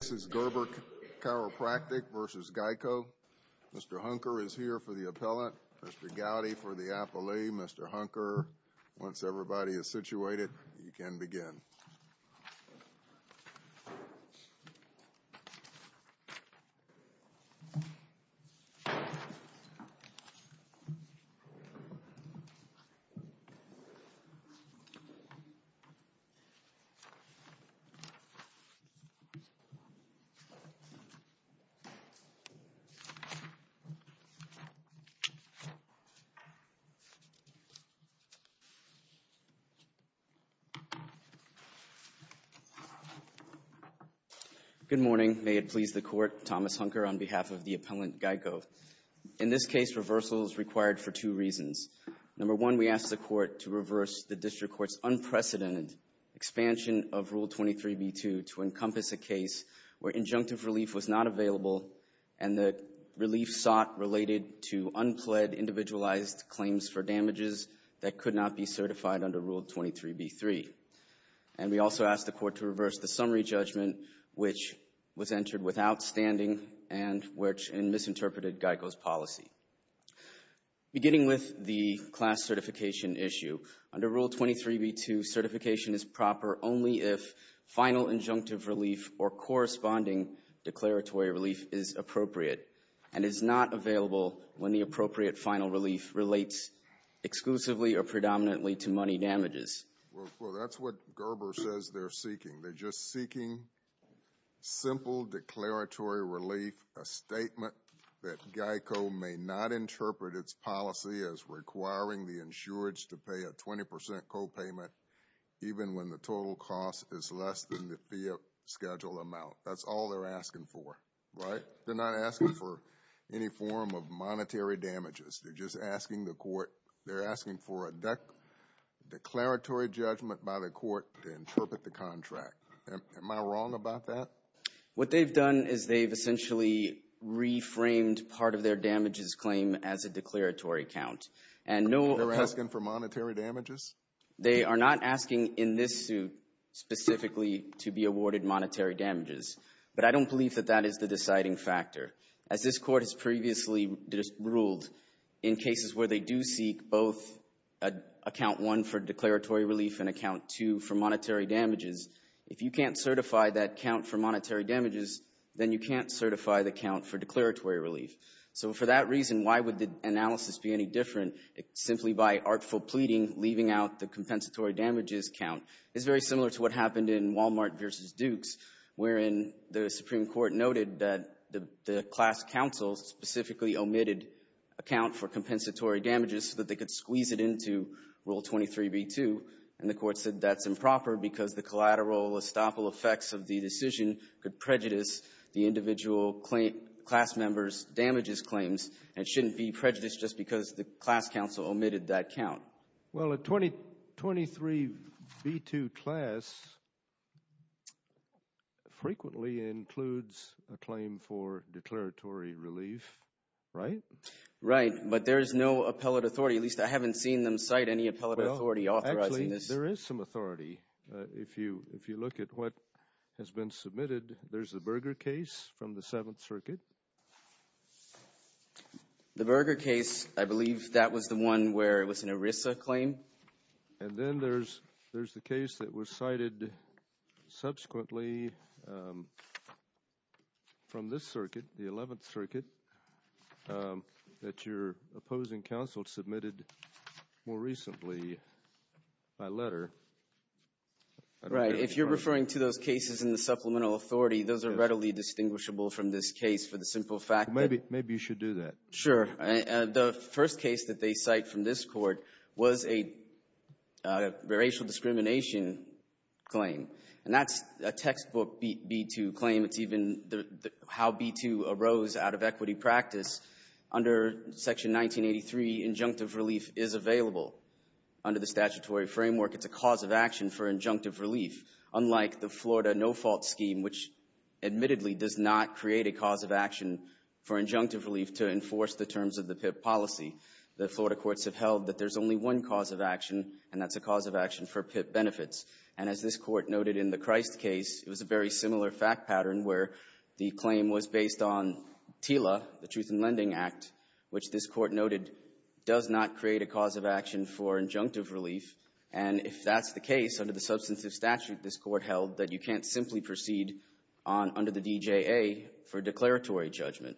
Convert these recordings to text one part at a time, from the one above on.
This is Gerber Chiropractic v. GEICO. Mr. Hunker is here for the appellant. Mr. Gowdy for the appellee. Mr. Hunker, once everybody is situated, you can begin. Good morning. May it please the Court, Thomas Hunker on behalf of the appellant GEICO. In this case, reversal is required for two reasons. Number one, we ask the Court to reverse the District Court's unprecedented expansion of Rule 23b-2 to encompass a case where injunctive relief was not available and the relief sought related to unpled individualized claims for damages that could not be certified under Rule 23b-3. And we also ask the Court to reverse the summary judgment which was entered without standing and which misinterpreted GEICO's policy. Beginning with the class certification issue, under Rule 23b-2, certification is proper only if final injunctive relief or corresponding declaratory relief is appropriate and is not available when the appropriate final relief relates exclusively or predominantly to money damages. Well, that's what Gerber says they're seeking. They're just seeking simple declaratory relief, a statement that GEICO may not interpret its policy as requiring the insureds to pay a 20% copayment even when the total cost is less than the fee of scheduled amount. That's all they're asking for, right? They're not asking for any form of monetary damages. They're just asking the Court, they're asking for a declaratory judgment by the Court to interpret the contract. Am I wrong about that? What they've done is they've essentially reframed part of their damages claim as a declaratory count. They're asking for monetary damages? They are not asking in this suit specifically to be awarded monetary damages. But I don't believe that that is the deciding factor. As this Court has previously ruled, in cases where they do seek both Account 1 for declaratory relief and Account 2 for monetary damages, if you can't certify that count for monetary damages, then you can't certify the count for declaratory relief. So for that reason, why would the analysis be any different simply by artful pleading, leaving out the compensatory damages count? It's very similar to what happened in Walmart v. Dukes, wherein the Supreme Court noted that the class counsels specifically omitted a count for compensatory damages so that they could squeeze it into Rule 23b-2. And the Court said that's improper because the collateral estoppel effects of the decision could prejudice the individual class member's damages claims and shouldn't be prejudiced just because the class counsel omitted that count. Well, a 23b-2 class frequently includes a claim for declaratory relief, right? Right, but there is no appellate authority. At least, I haven't seen them cite any appellate authority authorizing this. Actually, there is some authority. If you look at what has been submitted, there's the Berger case from the Seventh Circuit. The Berger case, I believe that was the one where it was an ERISA claim. And then there's the case that was cited subsequently from this circuit, the Eleventh Circuit, that your opposing counsel submitted more recently by letter. Right, if you're referring to those cases in the supplemental authority, those are readily distinguishable from this case for the simple fact that… Maybe you should do that. Sure. The first case that they cite from this court was a racial discrimination claim. And that's a textbook B-2 claim. It's even how B-2 arose out of equity practice. Under Section 1983, injunctive relief is available. Under the statutory framework, it's a cause of action for injunctive relief. Unlike the Florida no-fault scheme, which admittedly does not create a cause of action for injunctive relief to enforce the terms of the PIP policy, the Florida courts have held that there's only one cause of action, and that's a cause of action for PIP benefits. And as this Court noted in the Christ case, it was a very similar fact pattern where the claim was based on TILA, the Truth in Lending Act, which this Court noted does not create a cause of action for injunctive relief. And if that's the case, under the substantive statute this Court held, that you can't simply proceed on under the DJA for declaratory judgment.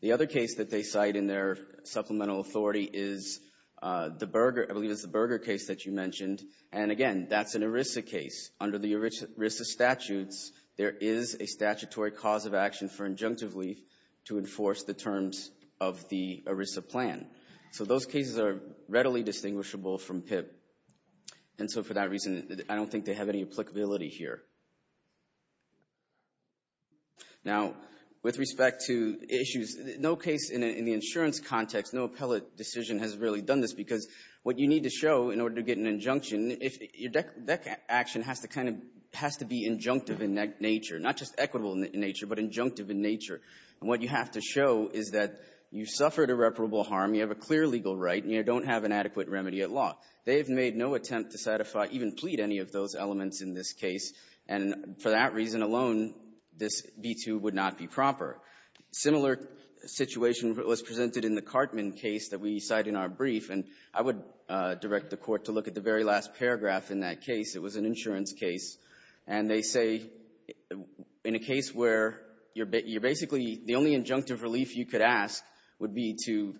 The other case that they cite in their supplemental authority is the Berger — I believe it's the Berger case that you mentioned. And again, that's an ERISA case. Under the ERISA statutes, there is a statutory cause of action for injunctive relief to enforce the terms of the ERISA plan. So those cases are readily distinguishable from PIP. And so for that reason, I don't think they have any applicability here. Now, with respect to issues, no case in the insurance context, no appellate decision has really done this, because what you need to show in order to get an injunction, that action has to be injunctive in nature, not just equitable in nature, but injunctive in nature. And what you have to show is that you've suffered irreparable harm, you have a clear legal right, and you don't have an adequate remedy at law. They have made no attempt to satisfy, even plead, any of those elements in this case, and for that reason alone, this B-2 would not be proper. A similar situation was presented in the Cartman case that we cite in our brief. And I would direct the Court to look at the very last paragraph in that case. It was an insurance case. And they say, in a case where you're basically, the only injunctive relief you could ask would be to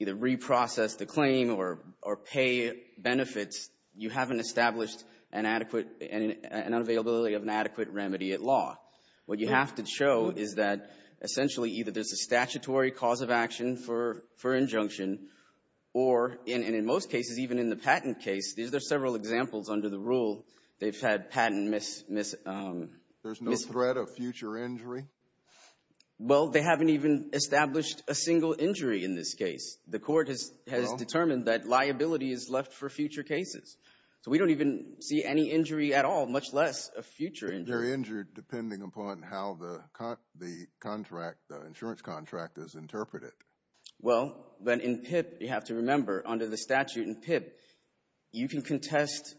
either reprocess the claim or pay benefits, you haven't established an adequate, an availability of an adequate remedy at law. What you have to show is that, essentially, either there's a statutory cause of action for injunction, or in most cases, even in the patent case, these are several examples under the rule, they've had patent mis- There's no threat of future injury? Well, they haven't even established a single injury in this case. The Court has determined that liability is left for future cases. So we don't even see any injury at all, much less a future injury. They're injured depending upon how the insurance contract is interpreted. Well, but in PIPP, you have to remember, under the statute in PIPP, you can contest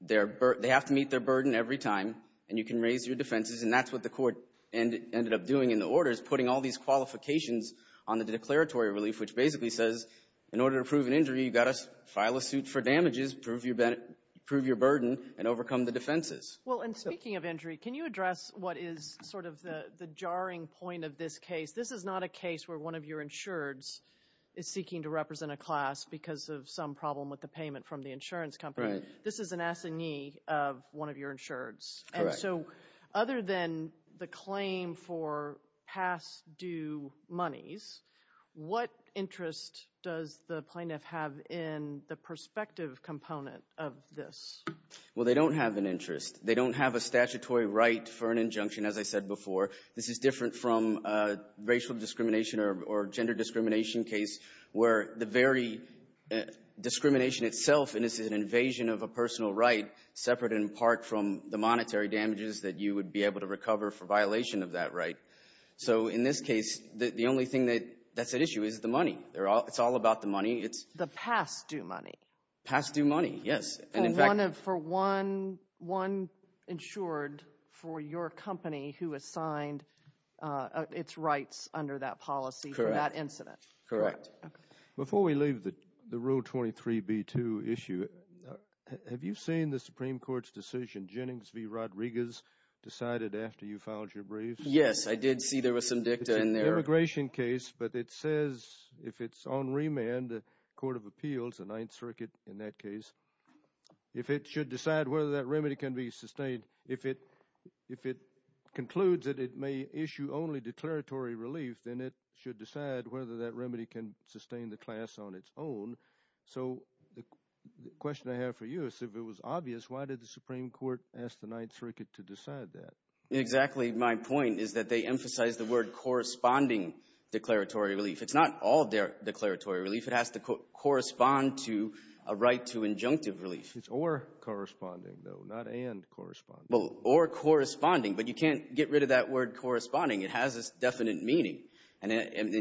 their burden. They have to meet their burden every time. And you can raise your defenses. And that's what the Court ended up doing in the order, is putting all these qualifications on the declaratory relief, which basically says, in order to prove an injury, you've got to file a suit for damages, prove your burden, and overcome the defenses. Well, and speaking of injury, can you address what is sort of the jarring point of this case? This is not a case where one of your insureds is seeking to represent a class because of some problem with the payment from the insurance company. Right. This is an assignee of one of your insureds. Correct. And so other than the claim for past due monies, what interest does the plaintiff have in the perspective component of this? Well, they don't have an interest. They don't have a statutory right for an injunction, as I said before. This is different from racial discrimination or gender discrimination case, where the very discrimination itself is an invasion of a personal right, separate in part from the monetary damages that you would be able to recover for violation of that right. So in this case, the only thing that's at issue is the money. It's all about the money. The past due money. Past due money, yes. For one insured for your company who assigned its rights under that policy for that incident. Correct. Before we leave the Rule 23b-2 issue, have you seen the Supreme Court's decision, Jennings v. Rodriguez, decided after you filed your briefs? Yes, I did see there was some dicta in there. But it says if it's on remand, the Court of Appeals, the Ninth Circuit in that case, if it should decide whether that remedy can be sustained, if it concludes that it may issue only declaratory relief, then it should decide whether that remedy can sustain the class on its own. So the question I have for you is if it was obvious, why did the Supreme Court ask the Ninth Circuit to decide that? Exactly. My point is that they emphasized the word corresponding declaratory relief. It's not all declaratory relief. It has to correspond to a right to injunctive relief. It's or corresponding, though, not and corresponding. Well, or corresponding. But you can't get rid of that word corresponding. It has a definite meaning. And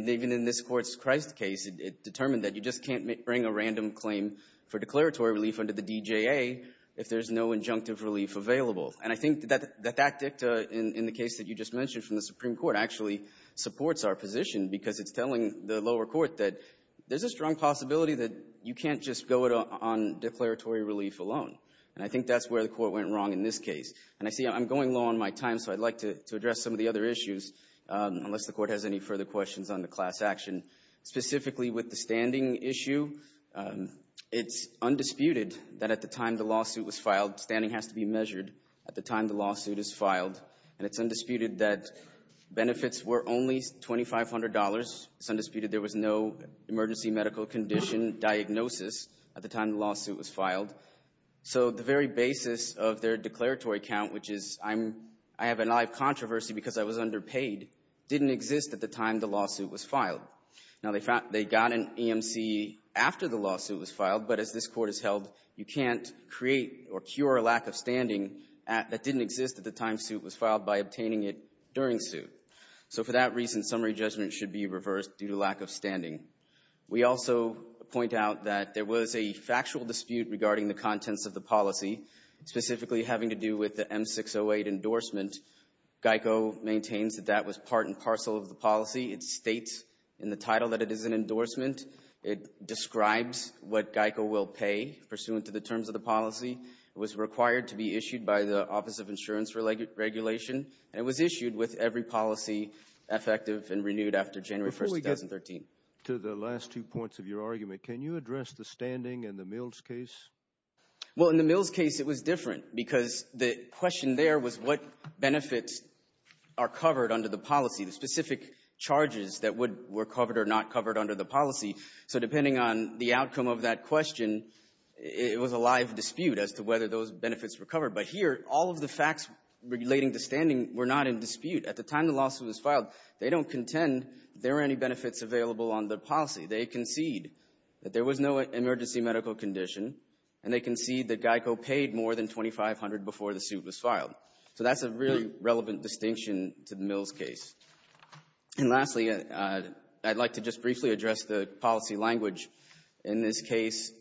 even in this Court's Christ case, it determined that you just can't bring a random claim for declaratory relief under the DJA if there's no injunctive relief available. And I think that that dicta in the case that you just mentioned from the Supreme Court actually supports our position because it's telling the lower court that there's a strong possibility that you can't just go on declaratory relief alone. And I think that's where the Court went wrong in this case. And I see I'm going low on my time, so I'd like to address some of the other issues, unless the Court has any further questions on the class action. Specifically with the standing issue, it's undisputed that at the time the lawsuit was filed, standing has to be measured at the time the lawsuit is filed. And it's undisputed that benefits were only $2,500. It's undisputed there was no emergency medical condition diagnosis at the time the lawsuit was filed. So the very basis of their declaratory count, which is I have a live controversy because I was underpaid, didn't exist at the time the lawsuit was filed. Now, they got an EMC after the lawsuit was filed, but as this Court has held, you can't create or cure a lack of standing that didn't exist at the time the suit was filed by obtaining it during suit. So for that reason, summary judgment should be reversed due to lack of standing. We also point out that there was a factual dispute regarding the contents of the policy, specifically having to do with the M608 endorsement. GEICO maintains that that was part and parcel of the policy. It states in the title that it is an endorsement. It describes what GEICO will pay pursuant to the terms of the policy. It was required to be issued by the Office of Insurance Regulation. And it was issued with every policy effective and renewed after January 1, 2013. Before we get to the last two points of your argument, can you address the standing in the Mills case? Well, in the Mills case, it was different because the question there was what benefits are covered under the policy. The specific charges that would be covered or not covered under the policy. So depending on the outcome of that question, it was a live dispute as to whether those benefits were covered. But here, all of the facts relating to standing were not in dispute. At the time the lawsuit was filed, they don't contend there were any benefits available on the policy. They concede that there was no emergency medical condition, and they concede So that's a really relevant distinction to the Mills case. And lastly, I'd like to just briefly address the policy language. In this case,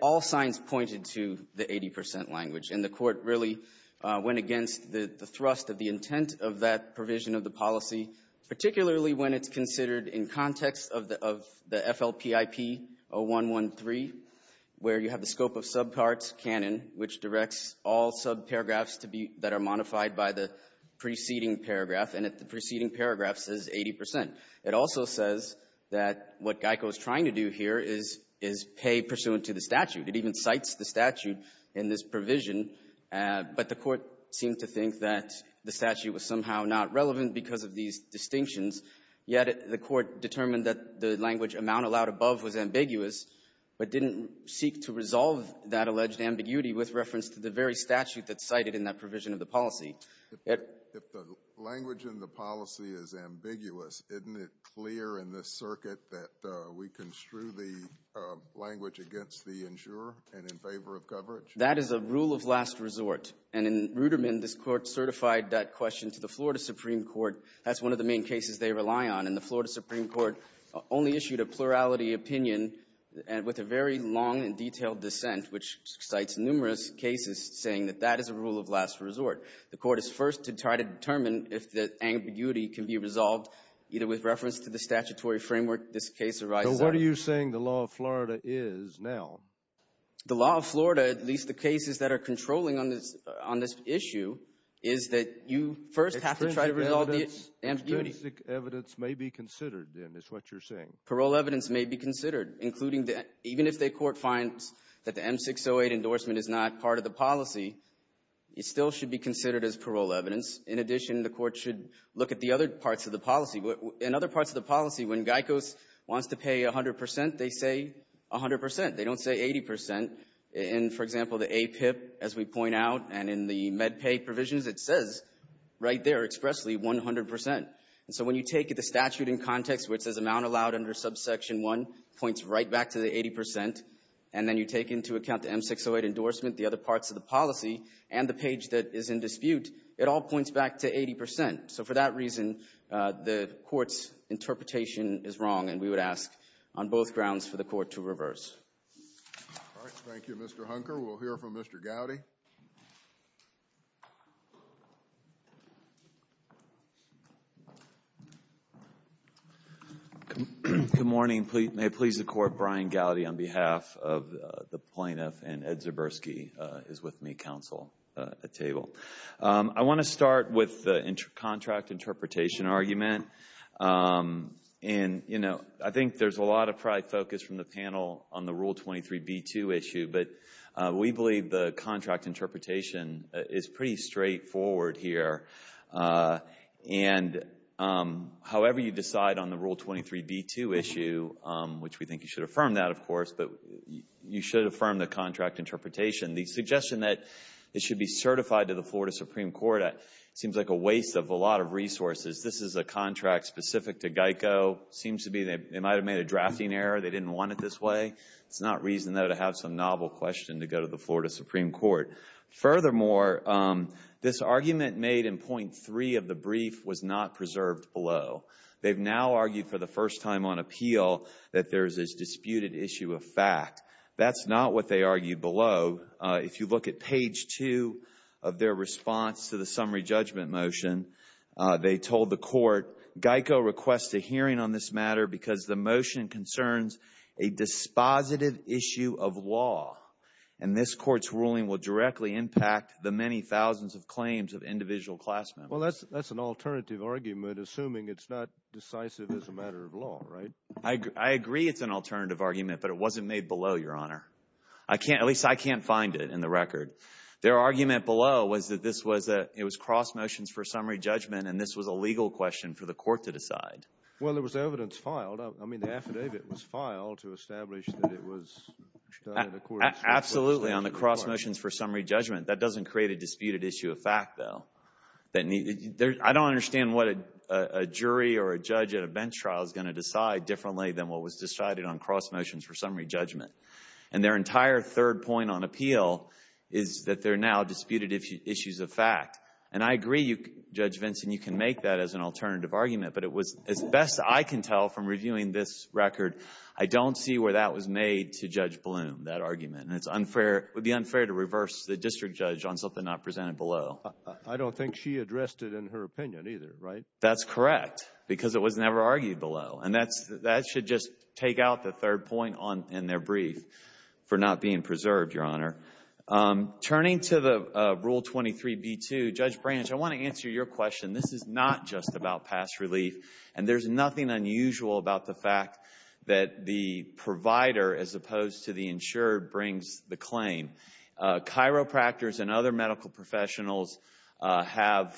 all signs pointed to the 80 percent language. And the Court really went against the thrust of the intent of that provision of the policy, particularly when it's considered in context of the FLPIP 0113, where you have the scope of subparts canon, which directs all subparagraphs that are modified by the preceding paragraph, and the preceding paragraph says 80 percent. It also says that what GEICO is trying to do here is pay pursuant to the statute. It even cites the statute in this provision, but the Court seemed to think that the statute was somehow not relevant because of these distinctions, yet the Court determined that the language amount allowed above was ambiguous, but didn't seek to resolve that alleged ambiguity with reference to the very statute that's cited in that provision of the policy. If the language in the policy is ambiguous, isn't it clear in this circuit that we construe the language against the insurer and in favor of coverage? That is a rule of last resort, and in Ruderman, this Court certified that question to the Florida Supreme Court. That's one of the main cases they rely on, and the Florida Supreme Court only issued a plurality opinion with a very long and detailed dissent, which cites numerous cases saying that that is a rule of last resort. The Court is first to try to determine if the ambiguity can be resolved either with reference to the statutory framework this case arises under. So what are you saying the law of Florida is now? The law of Florida, at least the cases that are controlling on this issue, is that you first have to try to resolve the ambiguity. Extrinsic evidence may be considered, then, is what you're saying. Parole evidence may be considered, including even if the Court finds that the M608 endorsement is not part of the policy, it still should be considered as parole evidence. In addition, the Court should look at the other parts of the policy. In other parts of the policy, when Geico wants to pay 100 percent, they say 100 percent. They don't say 80 percent. In, for example, the APIP, as we point out, and in the MedPay provisions, it says right there expressly 100 percent. And so when you take the statute in context where it says amount allowed under subsection 1 points right back to the 80 percent, and then you take into account the M608 endorsement, the other parts of the policy, and the page that is in dispute, it all points back to 80 percent. So for that reason, the Court's interpretation is wrong, and we would ask on both grounds for the Court to reverse. All right, thank you, Mr. Hunker. We'll hear from Mr. Gowdy. Good morning. May it please the Court, Brian Gowdy on behalf of the plaintiff and Ed Zaburski is with me, counsel at table. I want to start with the contract interpretation argument. And, you know, I think there's a lot of pride focus from the panel on the Rule 23b-2 issue, but we believe the contract interpretation is pretty straightforward here. And however you decide on the Rule 23b-2 issue, which we think you should affirm that, of course, but you should affirm the contract interpretation. The suggestion that it should be certified to the Florida Supreme Court seems like a waste of a lot of resources. This is a contract specific to GEICO. It seems to be they might have made a drafting error. They didn't want it this way. It's not reason, though, to have some novel question to go to the Florida Supreme Court. Furthermore, this argument made in point three of the brief was not preserved below. They've now argued for the first time on appeal that there is this disputed issue of fact. That's not what they argued below. If you look at page two of their response to the summary judgment motion, they told the court, GEICO requests a hearing on this matter because the motion concerns a dispositive issue of law, and this Court's ruling will directly impact the many thousands of claims of individual class members. Well, that's an alternative argument, assuming it's not decisive as a matter of law, right? I agree it's an alternative argument, but it wasn't made below, Your Honor. At least I can't find it in the record. Their argument below was that it was cross motions for summary judgment, and this was a legal question for the court to decide. Well, there was evidence filed. I mean, the affidavit was filed to establish that it was done in accordance with the court's ruling. Absolutely, on the cross motions for summary judgment. That doesn't create a disputed issue of fact, though. I don't understand what a jury or a judge at a bench trial is going to decide differently than what was decided on cross motions for summary judgment. And their entire third point on appeal is that they're now disputed issues of fact. And I agree, Judge Vinson, you can make that as an alternative argument, but it was, as best I can tell from reviewing this record, I don't see where that was made to Judge Bloom, that argument. And it would be unfair to reverse the district judge on something not presented below. I don't think she addressed it in her opinion either, right? That's correct, because it was never argued below. And that should just take out the third point in their brief for not being preserved, Your Honor. Turning to the Rule 23b-2, Judge Branch, I want to answer your question. This is not just about past relief. And there's nothing unusual about the fact that the provider, as opposed to the insured, brings the claim. Chiropractors and other medical professionals have,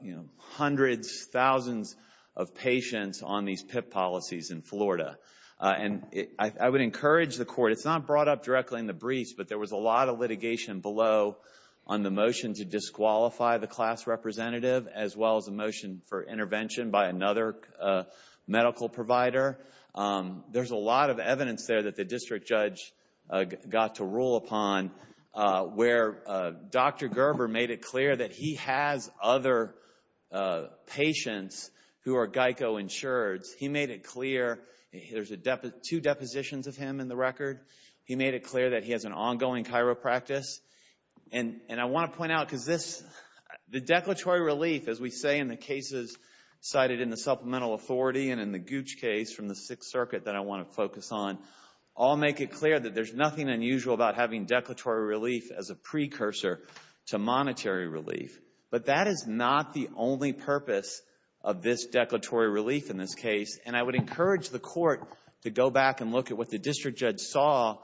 you know, hundreds, thousands of patients on these PIP policies in Florida. And I would encourage the court, it's not brought up directly in the briefs, but there was a lot of litigation below on the motion to disqualify the class representative, as well as a motion for intervention by another medical provider. There's a lot of evidence there that the district judge got to rule upon, where Dr. Gerber made it clear that he has other patients who are Geico insureds. He made it clear, there's two depositions of him in the record. He made it clear that he has an ongoing chiropractor. And I want to point out, because this, the declaratory relief, as we say in the cases cited in the supplemental authority and in the Gooch case from the Sixth Circuit that I want to focus on, all make it clear that there's nothing unusual about having declaratory relief as a precursor to monetary relief. But that is not the only purpose of this declaratory relief in this case. And I would encourage the court to go back and look at what the district judge saw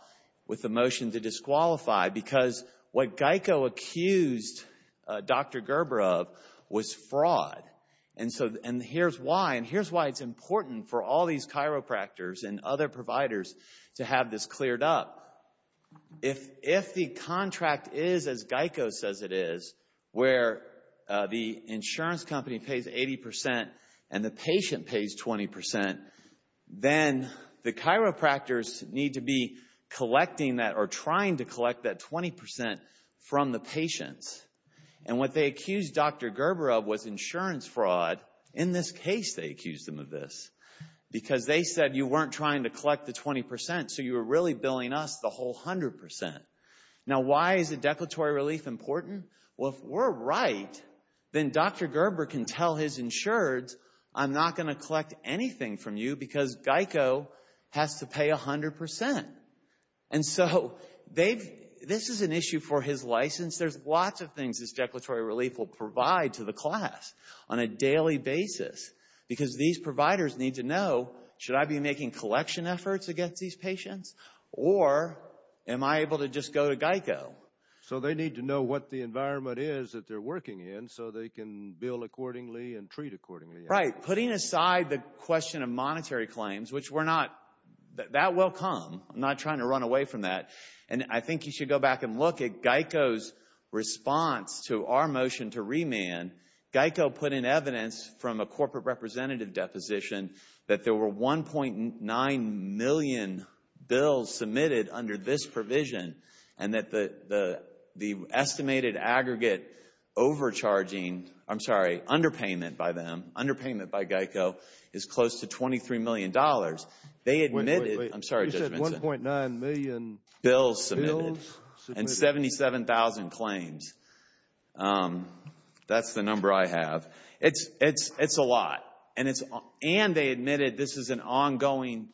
with the motion to disqualify, because what Geico accused Dr. Gerber of was fraud. And so, and here's why. And here's why it's important for all these chiropractors and other providers to have this cleared up. If the contract is as Geico says it is, where the insurance company pays 80% and the patient pays 20%, then the chiropractors need to be collecting that or trying to collect that 20% from the patients. And what they accused Dr. Gerber of was insurance fraud. In this case, they accused him of this, because they said you weren't trying to collect the 20%, so you were really billing us the whole 100%. Now, why is the declaratory relief important? Well, if we're right, then Dr. Gerber can tell his insureds, I'm not going to collect anything from you because Geico has to pay 100%. And so, this is an issue for his license. There's lots of things this declaratory relief will provide to the class on a daily basis, because these providers need to know, should I be making collection efforts against these patients, or am I able to just go to Geico? So they need to know what the environment is that they're working in so they can bill accordingly and treat accordingly. Right. Putting aside the question of monetary claims, which we're not, that will come. I'm not trying to run away from that. And I think you should go back and look at Geico's response to our motion to remand. Geico put in evidence from a corporate representative deposition that there were 1.9 million bills submitted under this provision, and that the estimated aggregate overcharging, I'm sorry, underpayment by them, underpayment by Geico is close to $23 million. Wait, wait, wait. You said 1.9 million bills submitted. And 77,000 claims. That's the number I have. It's a lot. And they admitted this is an ongoing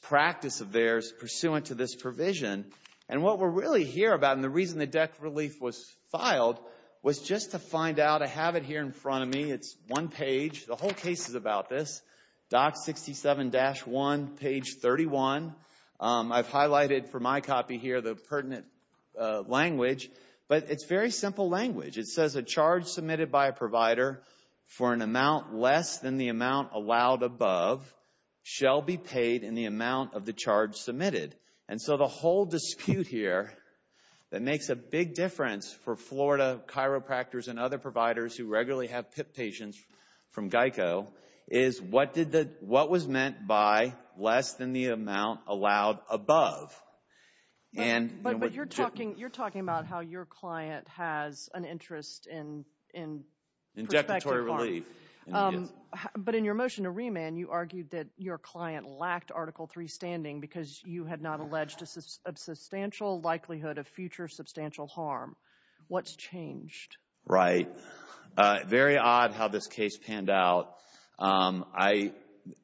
practice of theirs pursuant to this provision. And what we're really here about, and the reason the debt relief was filed, was just to find out, I have it here in front of me. It's one page. The whole case is about this. Doc 67-1, page 31. I've highlighted for my copy here the pertinent language. But it's very simple language. It says a charge submitted by a provider for an amount less than the amount allowed above shall be paid in the amount of the charge submitted. And so the whole dispute here that makes a big difference for Florida chiropractors and other providers who regularly have PIP patients from Geico is what was meant by less than the amount allowed above. But you're talking about how your client has an interest in prospective harm. But in your motion to remand, you argued that your client lacked Article III standing because you had not alleged a substantial likelihood of future substantial harm. What's changed? Right. Very odd how this case panned out.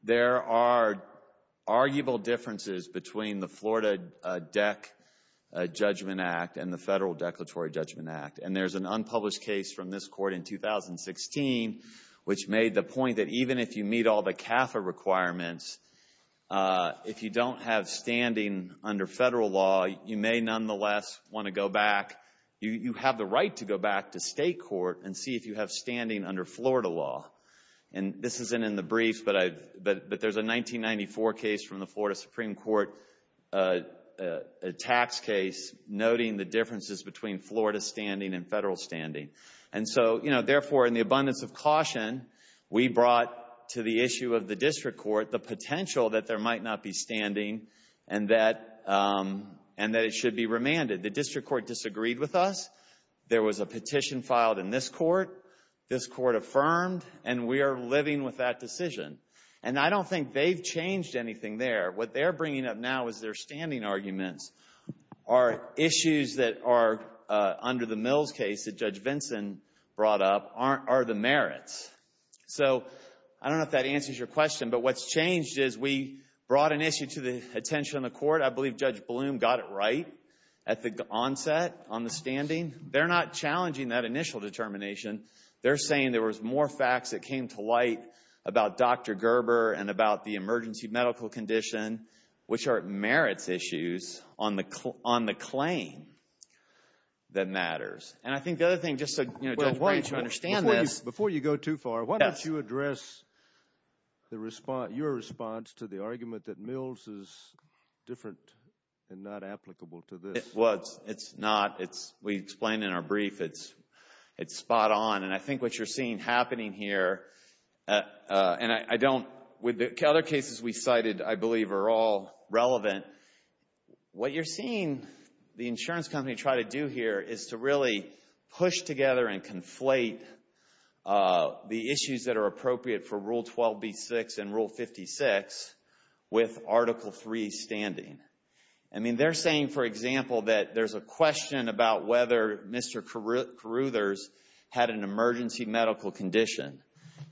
There are arguable differences between the Florida DEC Judgment Act and the Federal Declaratory Judgment Act. And there's an unpublished case from this court in 2016, which made the point that even if you meet all the CAFA requirements, if you don't have standing under federal law, you may nonetheless want to go back. You have the right to go back to state court and see if you have standing under Florida law. And this isn't in the brief, but there's a 1994 case from the Florida Supreme Court, a tax case, noting the differences between Florida standing and federal standing. And so, you know, therefore, in the abundance of caution, we brought to the issue of the district court the potential that there might not be standing and that it should be remanded. The district court disagreed with us. There was a petition filed in this court. This court affirmed. And we are living with that decision. And I don't think they've changed anything there. What they're bringing up now is their standing arguments are issues that are under the Mills case that Judge Vinson brought up are the merits. So I don't know if that answers your question, but what's changed is we brought an issue to the attention of the court. I believe Judge Bloom got it right at the onset on the standing. They're not challenging that initial determination. They're saying there was more facts that came to light about Dr. Gerber and about the emergency medical condition, which are merits issues on the claim that matters. And I think the other thing, just so Judge Branch will understand this. Before you go too far, why don't you address your response to the argument that Mills is different and not applicable to this? Well, it's not. We explained in our brief it's spot on. And I think what you're seeing happening here, and with the other cases we cited I believe are all relevant, what you're seeing the insurance company try to do here is to really push together and conflate the issues that are appropriate for Rule 12b-6 and Rule 56 with Article III standing. I mean, they're saying, for example, that there's a question about whether Mr. Caruthers had an emergency medical condition.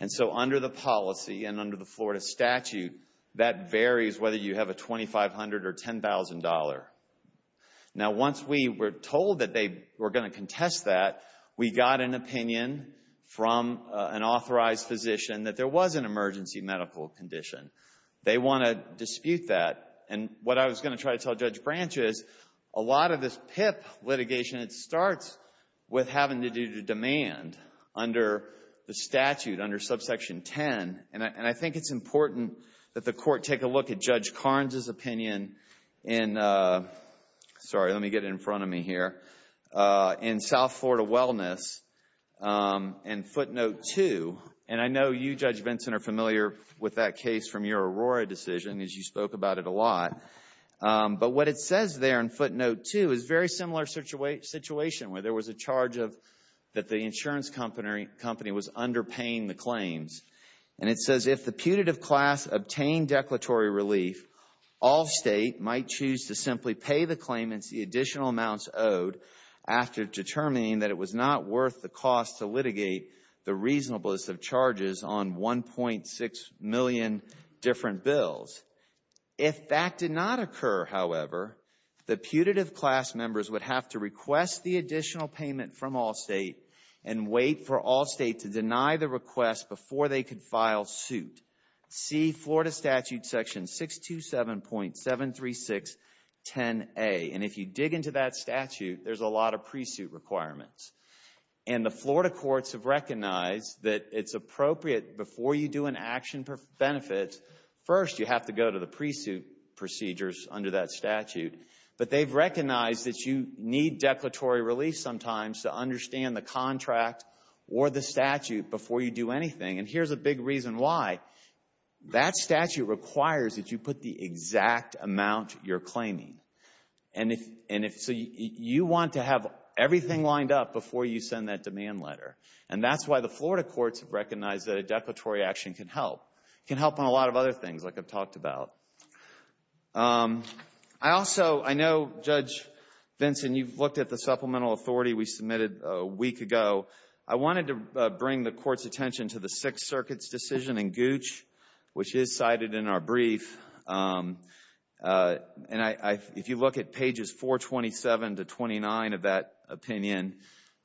And so under the policy and under the Florida statute, that varies whether you have a $2,500 or $10,000. Now, once we were told that they were going to contest that, we got an opinion from an authorized physician that there was an emergency medical condition. They want to dispute that. And what I was going to try to tell Judge Branch is a lot of this PIP litigation, it starts with having to do with demand under the statute, under subsection 10. And I think it's important that the court take a look at Judge Carnes' opinion in, sorry, let me get it in front of me here, in South Florida Wellness and footnote 2. And I know you, Judge Vinson, are familiar with that case from your Aurora decision as you spoke about it a lot. But what it says there in footnote 2 is a very similar situation where there was a charge that the insurance company was underpaying the claims. And it says, if the putative class obtained declaratory relief, all state might choose to simply pay the claimants the additional amounts owed after determining that it was not worth the cost to litigate the reasonableness of charges on 1.6 million different bills. If that did not occur, however, the putative class members would have to request the additional payment from Allstate and wait for Allstate to deny the request before they could file suit. See Florida Statute section 627.73610A. And if you dig into that statute, there's a lot of pre-suit requirements. And the Florida courts have recognized that it's appropriate before you do an action benefit, first you have to go to the pre-suit procedures under that statute. But they've recognized that you need declaratory relief sometimes to understand the contract or the statute before you do anything. And here's a big reason why. That statute requires that you put the exact amount you're claiming. And so you want to have everything lined up before you send that demand letter. And that's why the Florida courts have recognized that a declaratory action can help. It can help on a lot of other things, like I've talked about. I also know, Judge Vinson, you've looked at the supplemental authority we submitted a week ago. I wanted to bring the Court's attention to the Sixth Circuit's decision in Gooch, which is cited in our brief. And if you look at pages 427 to 29 of that opinion,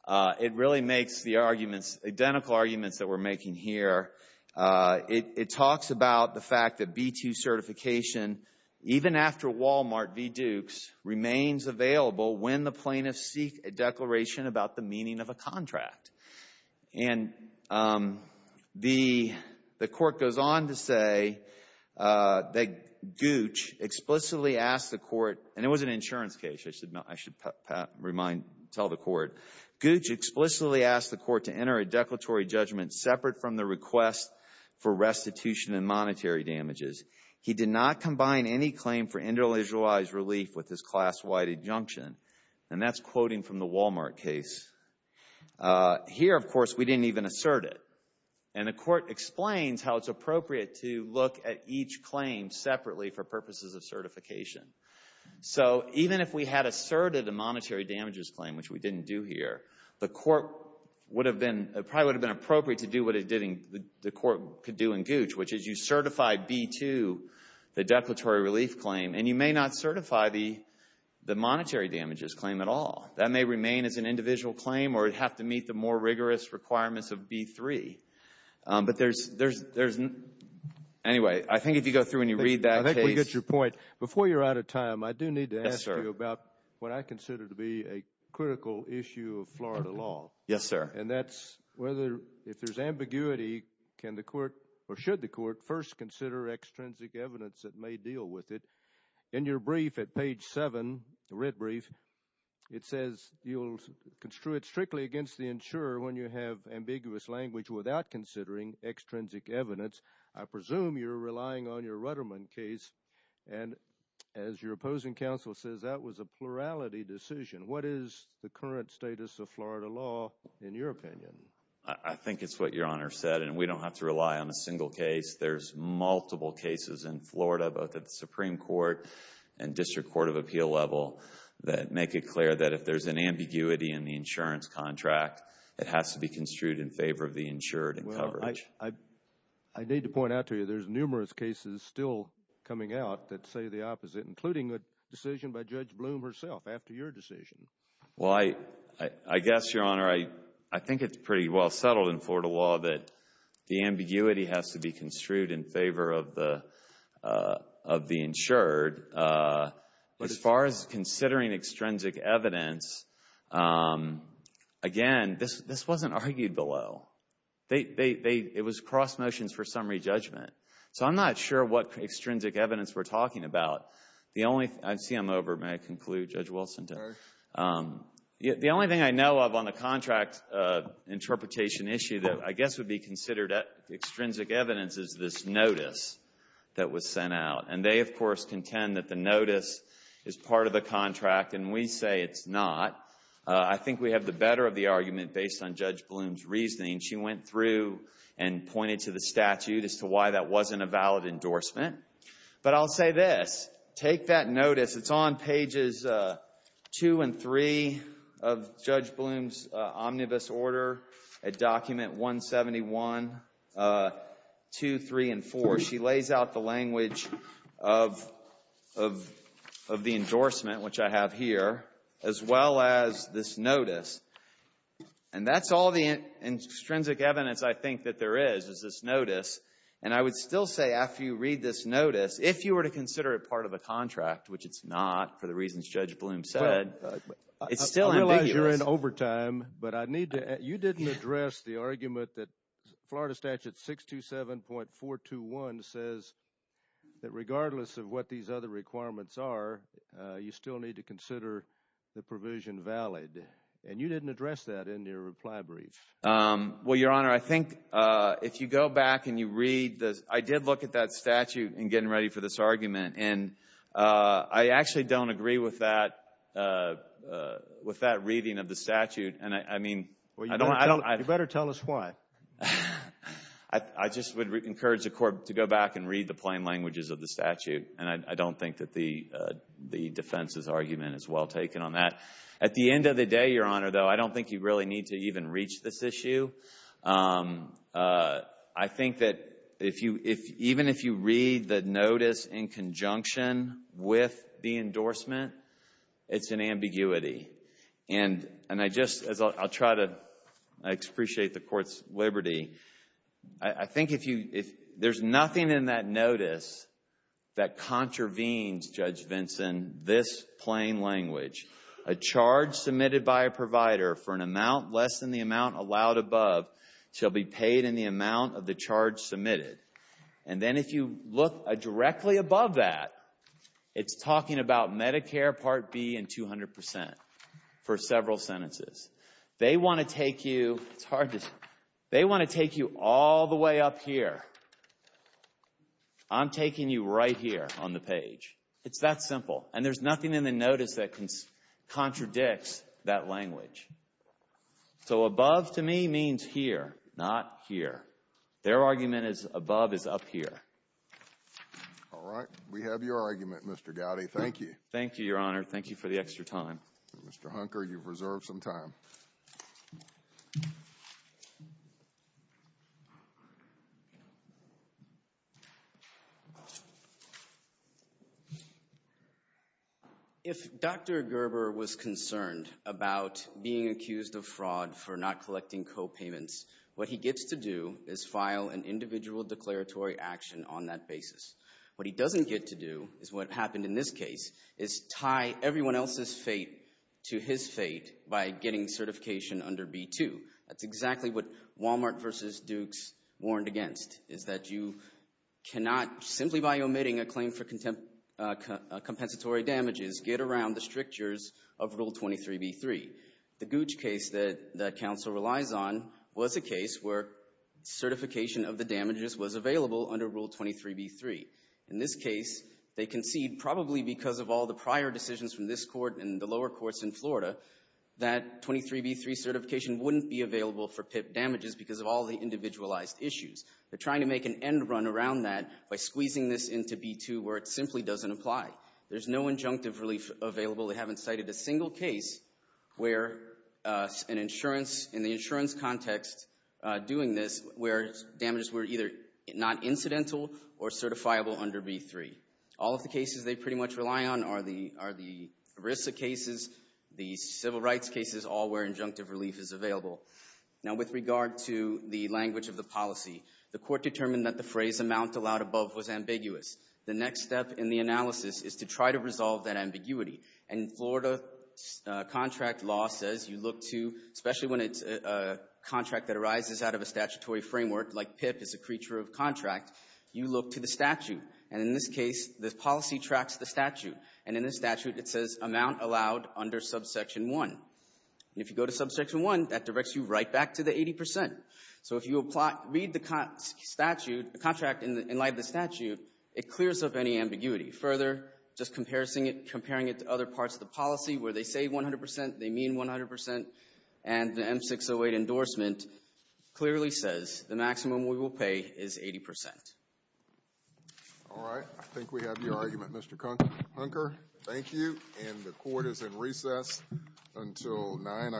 it really makes the arguments, identical arguments that we're making here. It talks about the fact that B-2 certification, even after Walmart v. Dukes, remains available when the plaintiffs seek a declaration about the meaning of a contract. And the Court goes on to say that Gooch explicitly asked the Court, and it was an insurance case, I should tell the Court, Gooch explicitly asked the Court to enter a declaratory judgment separate from the request for restitution and monetary damages. He did not combine any claim for individualized relief with his class-wide injunction. And that's quoting from the Walmart case. Here, of course, we didn't even assert it. And the Court explains how it's appropriate to look at each claim separately for purposes of certification. So even if we had asserted a monetary damages claim, which we didn't do here, the Court would have been appropriate to do what the Court could do in Gooch, which is you certify B-2, the declaratory relief claim, and you may not certify the monetary damages claim at all. That may remain as an individual claim or have to meet the more rigorous requirements of B-3. But there's, anyway, I think if you go through and you read that case. I think we get your point. Before you're out of time, I do need to ask you about what I consider to be a critical issue of Florida law. Yes, sir. And that's whether, if there's ambiguity, can the Court, or should the Court, first consider extrinsic evidence that may deal with it. In your brief at page 7, the red brief, it says you'll construe it strictly against the insurer when you have ambiguous language without considering extrinsic evidence. I presume you're relying on your Rudderman case. And as your opposing counsel says, that was a plurality decision. What is the current status of Florida law in your opinion? I think it's what Your Honor said, and we don't have to rely on a single case. There's multiple cases in Florida, both at the Supreme Court and District Court of Appeal level, that make it clear that if there's an ambiguity in the insurance contract, it has to be construed in favor of the insured in coverage. Well, I need to point out to you there's numerous cases still coming out that say the opposite, including a decision by Judge Bloom herself after your decision. Well, I guess, Your Honor, I think it's pretty well settled in Florida law that the ambiguity has to be construed in favor of the insured. As far as considering extrinsic evidence, again, this wasn't argued below. It was cross motions for summary judgment. So I'm not sure what extrinsic evidence we're talking about. I see I'm over. May I conclude, Judge Wilson? Sure. The only thing I know of on the contract interpretation issue that I guess would be considered extrinsic evidence is this notice that was sent out. And they, of course, contend that the notice is part of the contract, and we say it's not. I think we have the better of the argument based on Judge Bloom's reasoning. She went through and pointed to the statute as to why that wasn't a valid endorsement. But I'll say this. Take that notice. It's on pages 2 and 3 of Judge Bloom's omnibus order at document 171, 2, 3, and 4. She lays out the language of the endorsement, which I have here, as well as this notice. And that's all the extrinsic evidence I think that there is, is this notice. And I would still say after you read this notice, if you were to consider it part of a contract, which it's not for the reasons Judge Bloom said, it's still ambiguous. I realize you're in overtime, but you didn't address the argument that Florida Statute 627.421 says that regardless of what these other requirements are, you still need to consider the provision valid. And you didn't address that in your reply brief. Well, Your Honor, I think if you go back and you read this, I did look at that statute in getting ready for this argument, and I actually don't agree with that reading of the statute. You better tell us why. I just would encourage the Court to go back and read the plain languages of the statute, and I don't think that the defense's argument is well taken on that. At the end of the day, Your Honor, though, I don't think you really need to even reach this issue. I think that even if you read the notice in conjunction with the endorsement, it's an ambiguity. And I'll try to appreciate the Court's liberty. I think there's nothing in that notice that contravenes, Judge Vinson, this plain language. A charge submitted by a provider for an amount less than the amount allowed above shall be paid in the amount of the charge submitted. And then if you look directly above that, it's talking about Medicare Part B and 200% for several sentences. They want to take you all the way up here. It's that simple. And there's nothing in the notice that contradicts that language. So above, to me, means here, not here. Their argument is above is up here. All right. We have your argument, Mr. Gowdy. Thank you. Thank you, Your Honor. Thank you for the extra time. Mr. Hunker, you've reserved some time. If Dr. Gerber was concerned about being accused of fraud for not collecting copayments, what he gets to do is file an individual declaratory action on that basis. What he doesn't get to do is what happened in this case, is tie everyone else's fate to his fate by getting certification under B-2. That's exactly what Walmart versus Dukes warned against, is that you cannot, simply by omitting a claim for compensatory damages, get around the strictures of Rule 23B-3. The Gooch case that counsel relies on was a case where certification of the damages was available under Rule 23B-3. In this case, they concede, probably because of all the prior decisions from this court and the lower courts in Florida, that 23B-3 certification wouldn't be available for PIP damages because of all the individualized issues. They're trying to make an end run around that by squeezing this into B-2 where it simply doesn't apply. There's no injunctive relief available. They haven't cited a single case where an insurance, in the insurance context doing this, where damages were either not incidental or certifiable under B-3. All of the cases they pretty much rely on are the ERISA cases, the civil rights cases, all where injunctive relief is available. Now, with regard to the language of the policy, the court determined that the phrase, amount allowed above, was ambiguous. The next step in the analysis is to try to resolve that ambiguity. And Florida contract law says you look to, especially when it's a contract that arises out of a statutory framework, like PIP is a creature of contract, you look to the statute. And in this case, the policy tracks the statute. And in the statute, it says amount allowed under subsection 1. And if you go to subsection 1, that directs you right back to the 80%. So if you read the statute, the contract in light of the statute, it clears up any ambiguity. Further, just comparing it to other parts of the policy where they say 100%, they mean 100%, and the M-608 endorsement clearly says the maximum we will pay is 80%. All right. I think we have your argument, Mr. Hunker. Thank you. And the court is in recess until 9 o'clock.